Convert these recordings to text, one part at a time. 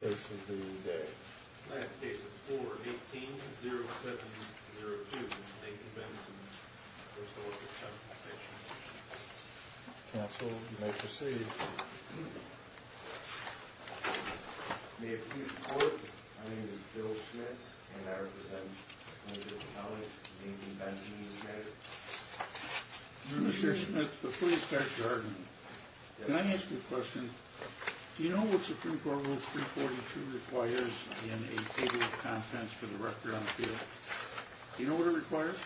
Last case of the day. Last case is 4-18-0702, Nathan Benson v. Workers' Compensation Commission. Counsel, you may proceed. May it please the court, my name is Bill Schmitz and I represent the College of Nathan Benson v. Schneider. Mr. Schmitz, before you start your argument, can I ask you a question? Do you know what Supreme Court Rule 342 requires in a table of contents for the record on appeal? Do you know what it requires?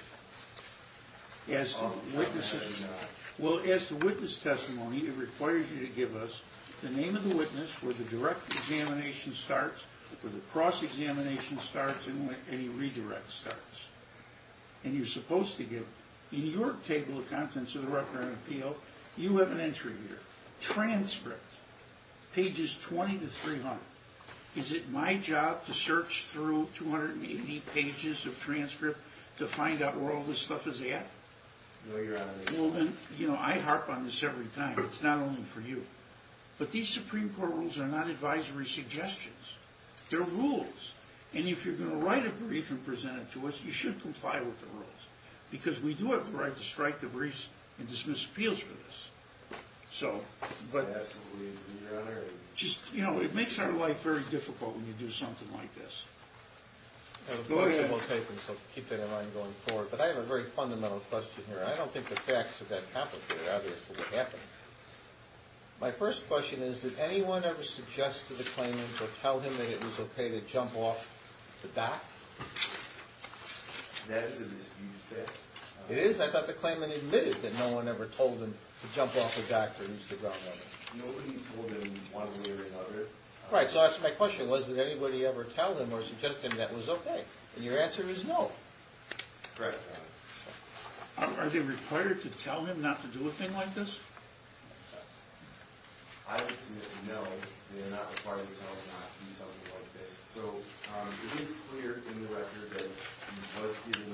Oh, no, I do not. Well, as to witness testimony, it requires you to give us the name of the witness where the direct examination starts, where the cross-examination starts, and where any redirect starts. And you're supposed to give, in your table of contents of the record on appeal, you have an entry here, transcript, pages 20-300. Is it my job to search through 280 pages of transcript to find out where all this stuff is at? No, Your Honor. Well, then, you know, I harp on this every time. It's not only for you. But these Supreme Court rules are not advisory suggestions. They're rules. And if you're going to write a brief and present it to us, you should comply with the rules. Because we do have the right to strike the briefs and dismiss appeals for this. So, but... Yes, Your Honor. Just, you know, it makes our life very difficult when you do something like this. Go ahead. I'll keep that in mind going forward. But I have a very fundamental question here. I don't think the facts of that happened here. Obviously, it happened. My first question is, did anyone ever suggest to the claimant or tell him that it was okay to jump off the dock? That is a disputed fact. It is? I thought the claimant admitted that no one ever told him to jump off the dock for Mr. Brown. Nobody told him one way or another. Right. So that's my question. Was it anybody ever tell him or suggest him that was okay? And your answer is no. Correct, Your Honor. Are they required to tell him not to do a thing like this? I would submit no. They are not required to tell him not to do something like this. So, it is clear in the record that he was given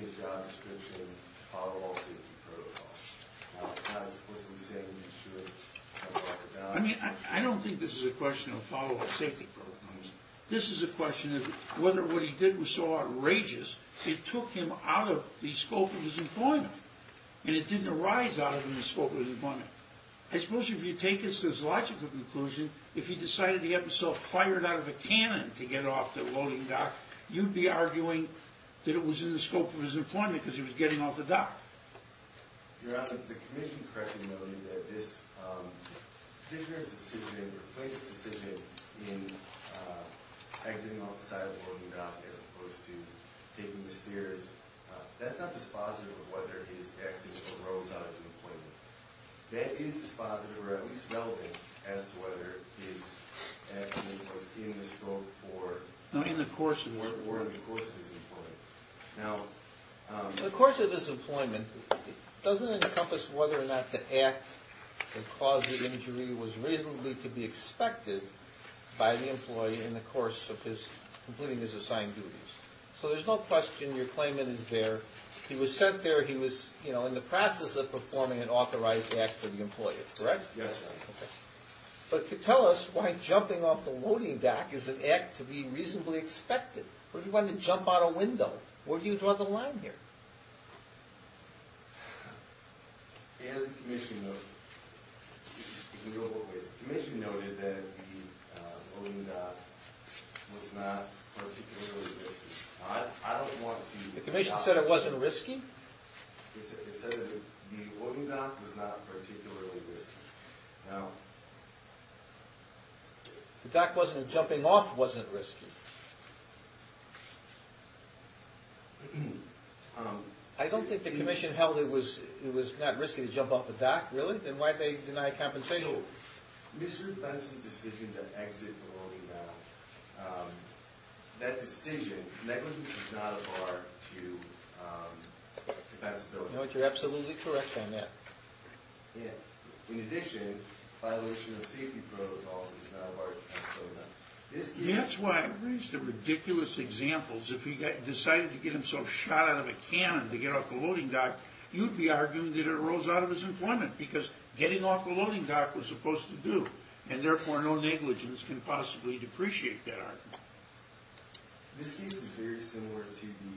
his job description, follow all safety protocols. Now, it's not explicitly saying that he should jump off the dock. I mean, I don't think this is a question of follow all safety protocols. This is a question of whether what he did was so outrageous, it took him out of the scope of his employment. And it didn't arise out of the scope of his employment. I suppose if you take this to its logical conclusion, if he decided to get himself fired out of a cannon to get off the loading dock, you'd be arguing that it was in the scope of his employment because he was getting off the dock. Your Honor, the commission correctly noted that this particular decision, the plaintiff's decision in exiting off the side of the loading dock as opposed to taking the stairs, that's not dispositive of whether his exit arose out of his employment. That is dispositive, or at least relevant, as to whether his exit was in the scope or in the course of his employment. Now, the course of his employment doesn't encompass whether or not the act that caused the injury was reasonably to be expected by the employee in the course of completing his assigned duties. So there's no question your claimant is there. He was sent there, he was in the process of performing an authorized act for the employee, correct? Yes, Your Honor. Okay. But tell us why jumping off the loading dock is an act to be reasonably expected. Well, you wouldn't jump out a window. Where do you draw the line here? As the commission noted, the commission noted that the loading dock was not particularly risky. I don't want to... The commission said it wasn't risky? It said that the loading dock was not particularly risky. Now... The dock wasn't...jumping off wasn't risky? I don't think the commission held it was not risky to jump off a dock, really? Then why did they deny compensation? Mr. Benson's decision to exit the loading dock, that decision negligently did not afford to... You know what, you're absolutely correct on that. In addition, violation of safety protocols is not of our... That's why I raised the ridiculous examples. If he decided to get himself shot out of a cannon to get off the loading dock, you'd be arguing that it arose out of his employment. Because getting off the loading dock was supposed to do, and therefore no negligence can possibly depreciate that argument. This case is very similar to the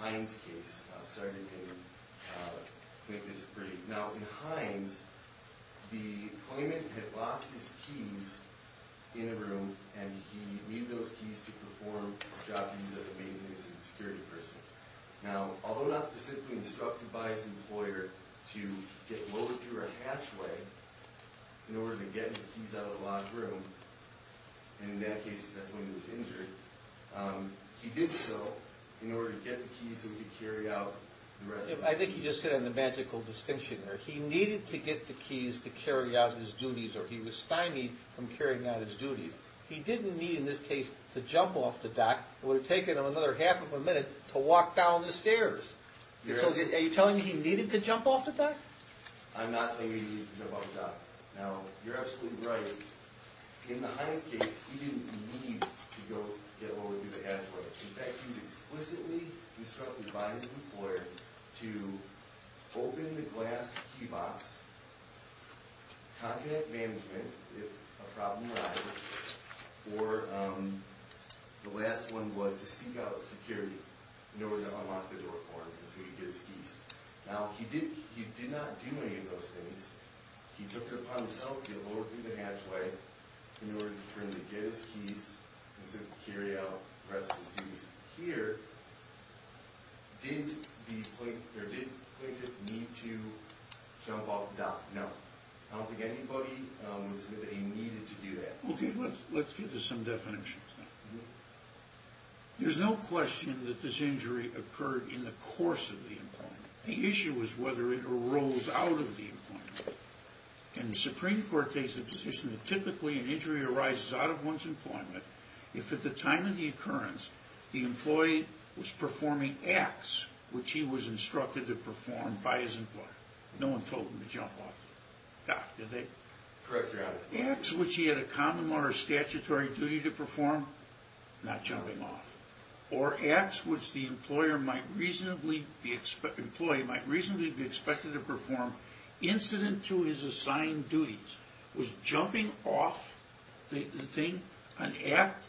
Hines case. I'm sorry to make this brief. Now, in Hines, the employment had locked his keys in a room, and he needed those keys to perform his job duties as a maintenance and security person. Now, although not specifically instructed by his employer to get loaded through a hatchway in order to get his keys out of the locked room, and in that case, that's when he was injured, he did so in order to get the keys so he could carry out the rest of his duties. I think you just hit on the magical distinction there. He needed to get the keys to carry out his duties, or he was stymied from carrying out his duties. He didn't need, in this case, to jump off the dock. It would have taken him another half of a minute to walk down the stairs. Are you telling me he needed to jump off the dock? I'm not telling you he needed to jump off the dock. Now, you're absolutely right. In the Hines case, he didn't need to go get loaded through the hatchway. In fact, he was explicitly instructed by his employer to open the glass key box, contact management if a problem arises, or the last one was to seek out security in order to unlock the door for him so he could get his keys. Now, he did not do any of those things. He took it upon himself to get loaded through the hatchway in order to get his keys and to carry out the rest of his duties. Here, did the plaintiff need to jump off the dock? No. I don't think anybody would say that he needed to do that. Okay, let's get to some definitions now. There's no question that this injury occurred in the course of the employment. The issue was whether it arose out of the employment. And the Supreme Court takes the position that typically an injury arises out of one's employment if at the time of the occurrence the employee was performing acts which he was instructed to perform by his employer. No one told him to jump off the dock, did they? Correct, Your Honor. Acts which he had a common law or statutory duty to perform, not jumping off. Or acts which the employee might reasonably be expected to perform incident to his assigned duties. Was jumping off the thing an act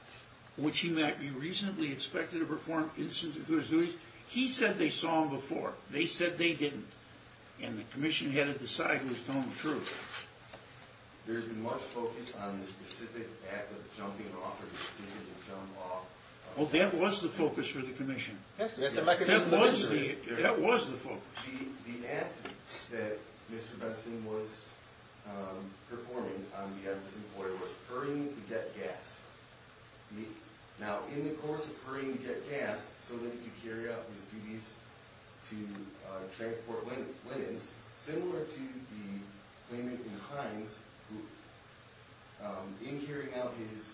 which he might be reasonably expected to perform incident to his duties? He said they saw him before. They said they didn't. And the commission had to decide who was telling the truth. There's been much focus on the specific act of jumping off or the decision to jump off. Well, that was the focus for the commission. That's a mechanism of injury. That was the focus. The act that Mr. Benson was performing on behalf of his employer was hurrying to get gas. Now, in the course of hurrying to get gas so that he could carry out his duties to transport women, similar to the claimant in Hines who, in carrying out his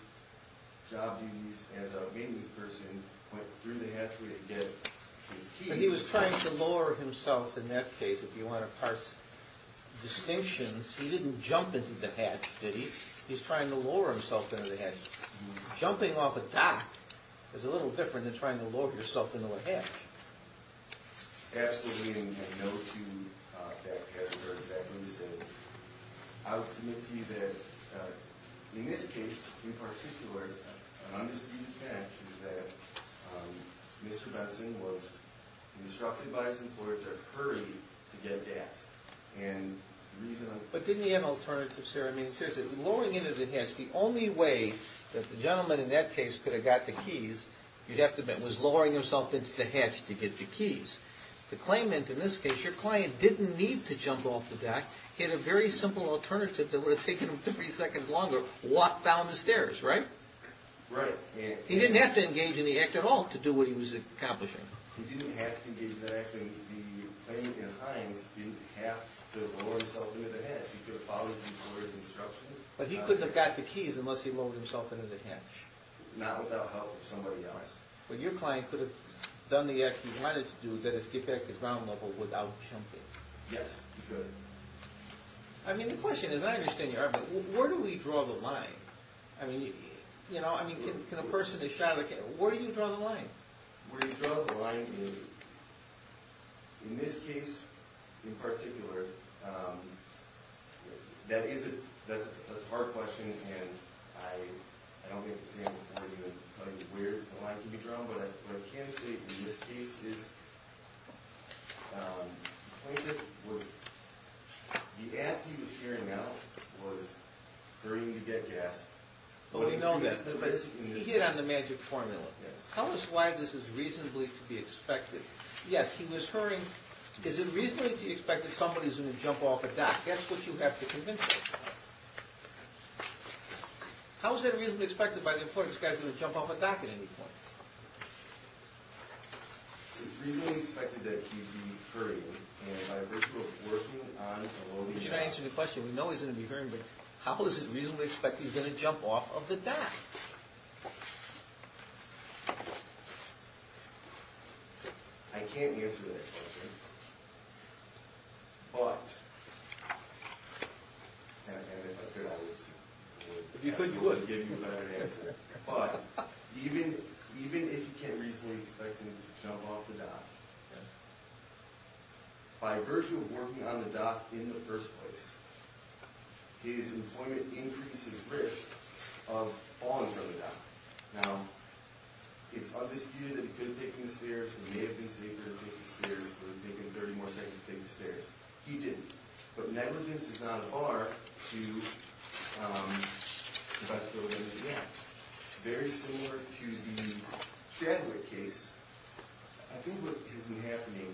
job duties as a maintenance person, went through the hatchway to get his keys. And he was trying to lure himself, in that case, if you want to parse distinctions, he didn't jump into the hatch, did he? He's trying to lure himself into the hatch. Jumping off a dock is a little different than trying to lure yourself into a hatch. Absolutely. And no two factors are exactly the same. I would submit to you that in this case, in particular, an undisputed fact is that Mr. Benson was instructed by his employer to hurry to get gas. But didn't he have an alternative, sir? I mean, seriously, luring into the hatch, the only way that the gentleman in that case could have got the keys, you'd have to admit, was luring himself into the hatch to get the keys. The claimant, in this case, your client didn't need to jump off the dock. He had a very simple alternative that would have taken him 50 seconds longer. Walk down the stairs, right? Right. He didn't have to engage in the act at all to do what he was accomplishing. He didn't have to engage in the act. The claimant in Hines didn't have to lure himself into the hatch. He could have followed his employer's instructions. But he couldn't have got the keys unless he lured himself into the hatch. Not without help from somebody else. But your client could have done the act he wanted to do, that is, get back to ground level without jumping. Yes, he could. I mean, the question is, I understand your argument, but where do we draw the line? I mean, you know, I mean, can a person who's shot at a camera, where do you draw the line? Where do you draw the line? In this case, in particular, that is a hard question, and I don't make the same point. I'm going to tell you where the line can be drawn. But what I can say in this case is the plaintiff was, the act he was carrying out was hurting to get gas. Well, we know that, but he hit on the magic formula. Tell us why this is reasonably to be expected. Yes, he was hurting. Is it reasonably to be expected somebody's going to jump off a dock? That's what you have to convince us about. How is that reasonably expected by the importance of guys going to jump off a dock at any point? It's reasonably expected that he'd be hurting. And by virtue of working on the law... We can answer the question. We know he's going to be hurting, but how is it reasonably expected he's going to jump off of the dock? I can't answer that question. But... Now, if I could, I would. Because you would, give you a better answer. But, even if you can reasonably expect him to jump off the dock, by virtue of working on the dock in the first place, his employment increases risk of falling from the dock. Now, it's undisputed that he could have taken the stairs. He may have been safer to take the stairs. He could have taken 30 more seconds to take the stairs. He didn't. But, negligence is not a bar to... Very similar to the Chadwick case. I think what has been happening...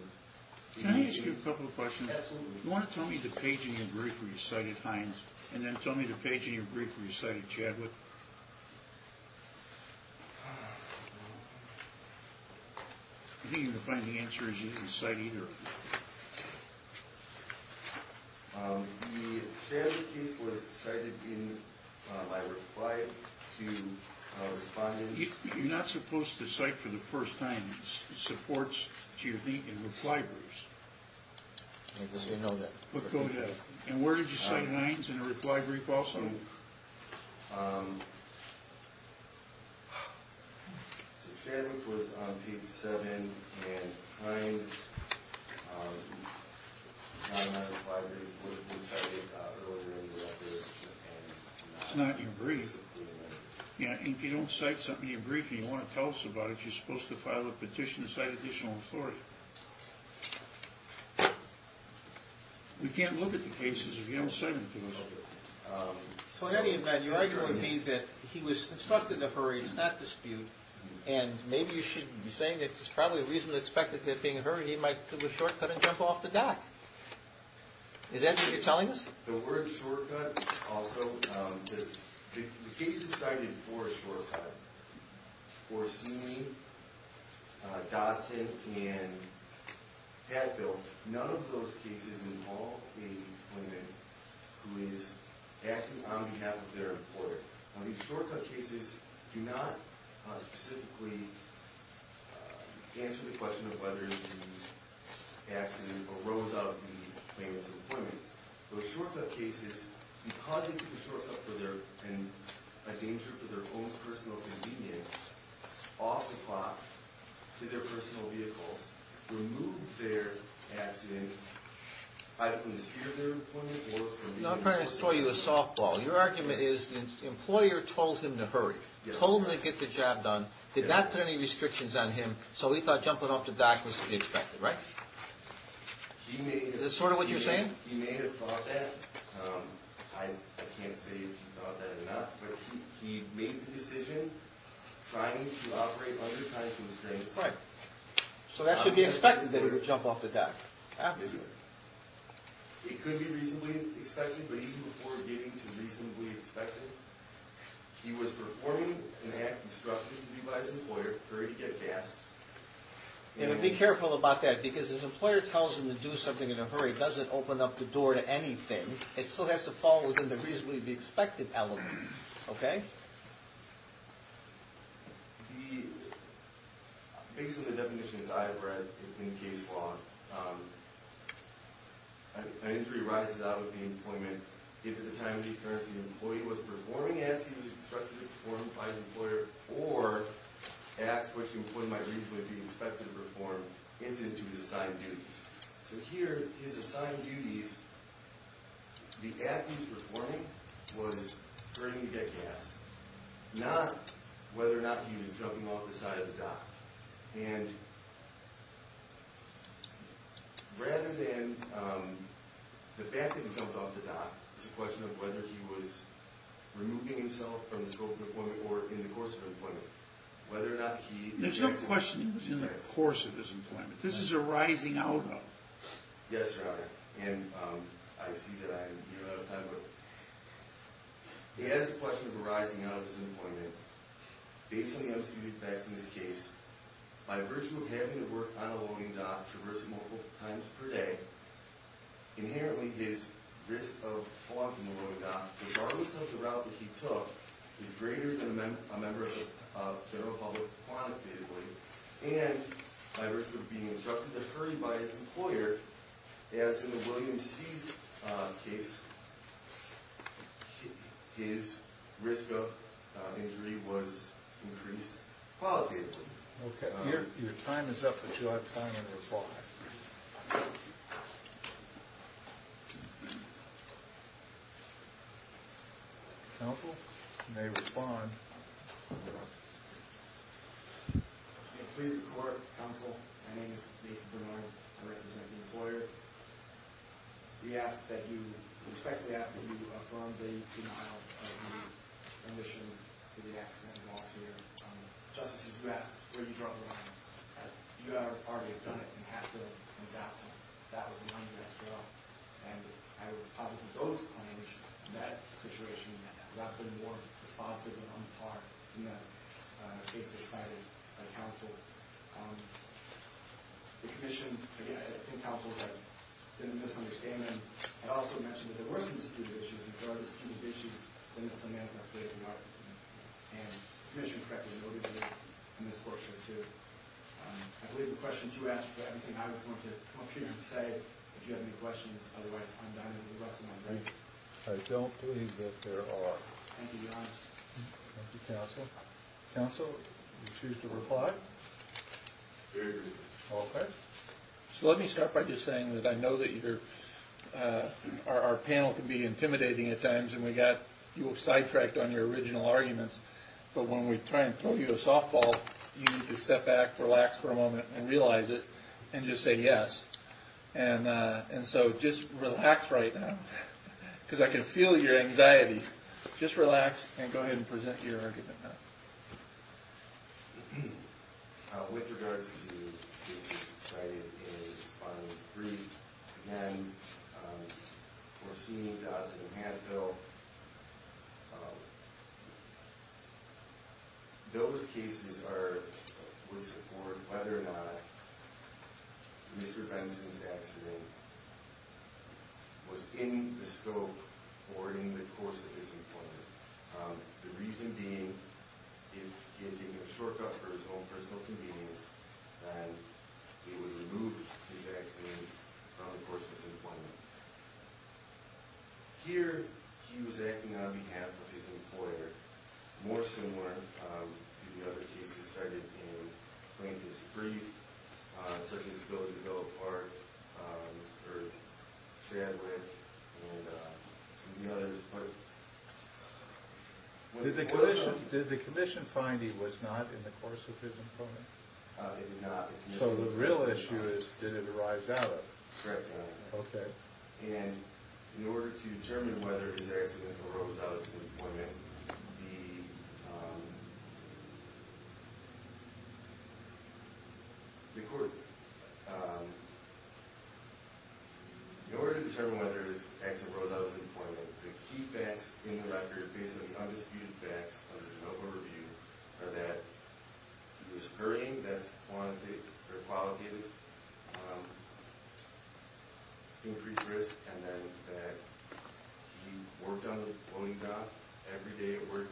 Can I ask you a couple of questions? Absolutely. You want to tell me the page in your brief where you cited Hines, and then tell me the page in your brief where you cited Chadwick? I don't think you're going to find the answers you didn't cite either. The Chadwick case was cited in my reply to respondents. You're not supposed to cite for the first time supports to your reply briefs. I didn't know that. Go ahead. And where did you cite Hines in the reply brief also? Chadwick was on page 7. And Hines, in my reply brief, was cited earlier in the record. It's not in your brief. And if you don't cite something in your brief and you want to tell us about it, you're supposed to file a petition to cite additional authority. We can't look at the cases if you don't cite them to us. So in any event, you're arguing to me that he was instructed to hurry, it's not dispute. And maybe you should be saying that it's probably reasonably expected that being in a hurry, he might take a shortcut and jump off the dock. Is that what you're telling us? The word shortcut also... The cases cited for a shortcut were Seeley, Dodson, and Padfield. None of those cases involve a woman who is acting on behalf of their employer. Now, these shortcut cases do not specifically answer the question of whether the accident arose out of the claimants' employment. Those shortcut cases, because they took a shortcut and a danger for their own personal convenience, off the clock to their personal vehicles, removed their accident either from the sphere of their employment or... No, I'm trying to throw you a softball. Your argument is the employer told him to hurry, told him to get the job done, did not put any restrictions on him, so he thought jumping off the dock was to be expected, right? Is that sort of what you're saying? He may have thought that. I can't say he thought that enough. But he made the decision trying to operate under time constraints. Right. So that should be expected, that he would jump off the dock. Obviously. It could be reasonably expected, but even before getting to reasonably expected, he was performing an act instructed to do by his employer, hurry to get gas... Be careful about that, because if an employer tells him to do something in a hurry, it doesn't open up the door to anything. It still has to fall within the reasonably expected element. Okay? Based on the definitions I've read in case law, an injury arises out of the employment if at the time of the occurrence the employee was performing acts he was instructed to perform by his employer, or acts which the employee might reasonably be expected to perform incident to his assigned duties. So here, his assigned duties, the act he was performing was hurrying to get gas, not whether or not he was jumping off the side of the dock. And rather than the fact that he jumped off the dock, it's a question of whether he was removing himself from the scope of employment or in the course of employment, whether or not he... There's no question he was in the course of his employment. This is a rising out of. Yes, Your Honor. And I see that I am here out of time, but... He has the question of a rising out of his employment. Based on the unsecured facts in this case, by virtue of having to work on a loading dock, traversing multiple times per day, inherently his risk of falling from the loading dock, regardless of the route that he took, is greater than a member of the general public quantitatively, and by virtue of being instructed to hurry by his employer, as in the William C's case, his risk of injury was increased qualitatively. Okay. Your time is up, but you'll have time to respond. Counsel may respond. Please report, Counsel. My name is Nathan Bernard. I represent the employer. We respectfully ask that you affirm the denial of the remission for the accident and volunteer. Justices, you asked where you draw the line. You and our party have done it in Haskell and Dotson. That was the one you asked for. And I would posit that those claims and that situation was absolutely more dispositive and on par than the case decided by Counsel. The Commission, again, and Counsel, didn't misunderstand them. I'd also mention that there were some disputed issues, and if there are disputed issues, then it's a manifest way to argue them. And the Commission correctly noted them in this portion, too. I believe the questions you asked were everything I was going to come up here and say. If you have any questions, otherwise, I'm done. I don't believe that there are. Thank you, Counsel. Counsel, would you choose to reply? Very briefly. Okay. So let me start by just saying that I know that our panel can be intimidating at times, and we got you sidetracked on your original arguments. But when we try and throw you a softball, you need to step back, relax for a moment, and realize it, and just say yes. And so just relax right now, because I can feel your anxiety. Just relax and go ahead and present your argument now. With regards to cases cited in Respondent 3, again, or seen in Dodson and Hatfield, those cases would support whether or not Mr. Benson's accident was in the scope or in the course of his employment. The reason being, if he had taken a shortcut for his own personal convenience, then it would remove his accident from the course of his employment. Here, he was acting on behalf of his employer. More similar to the other cases cited in Plaintiff's Brief, such as the Bill of Parts, Chadwick, and some of the others. Did the commission find he was not in the course of his employment? He did not. So the real issue is, did it arise out of it? Correctly. Okay. Okay. In order to determine whether his accident arose out of his employment, the key facts in the record, basically undisputed facts under no overview, are that he was hurrying, that he wanted to take a qualitative increased risk, and then that he worked on the loading dock every day of work.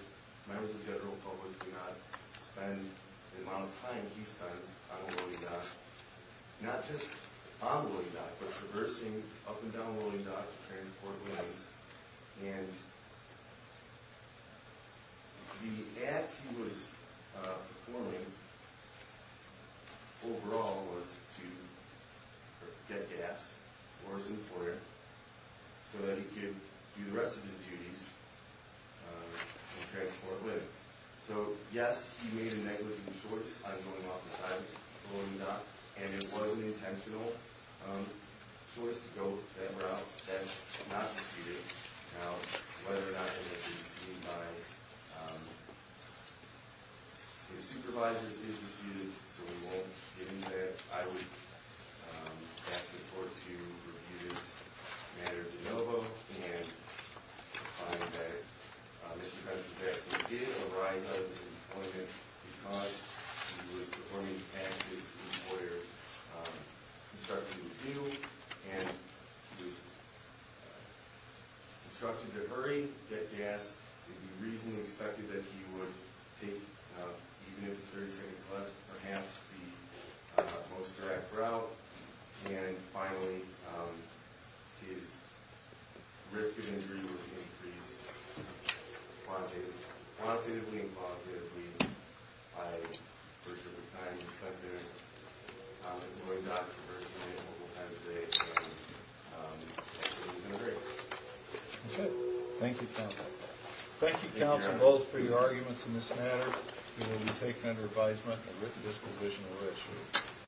Members of the general public do not spend the amount of time he spends on a loading dock. Not just on the loading dock, but traversing up and down the loading dock to transport goods. And the act he was performing overall was to get gas for his employer, so that he could do the rest of his duties and transport goods. So, yes, he made a negligent choice on going off the side of the loading dock, and it was an intentional choice to go that route. That's not disputed. Now, whether or not it had been seen by his supervisors is disputed, so we won't, given that I would ask the court to review this matter de novo and find that Mr. Benson's accident did arise out of his employment because he was performing as his employer instructed him to do. And he was instructed to hurry, get gas. It would be reasonably expected that he would take, even if it's 30 seconds less, perhaps the most direct route. And, finally, his risk of injury was increased quantitatively and qualitatively by the portion of the time he spent there at the loading dock versus the available time of day. And he's in the grave. That's it. Thank you, counsel. Thank you, counsel, both, for your arguments in this matter. It will be taken under advisement. Thank you, counsel.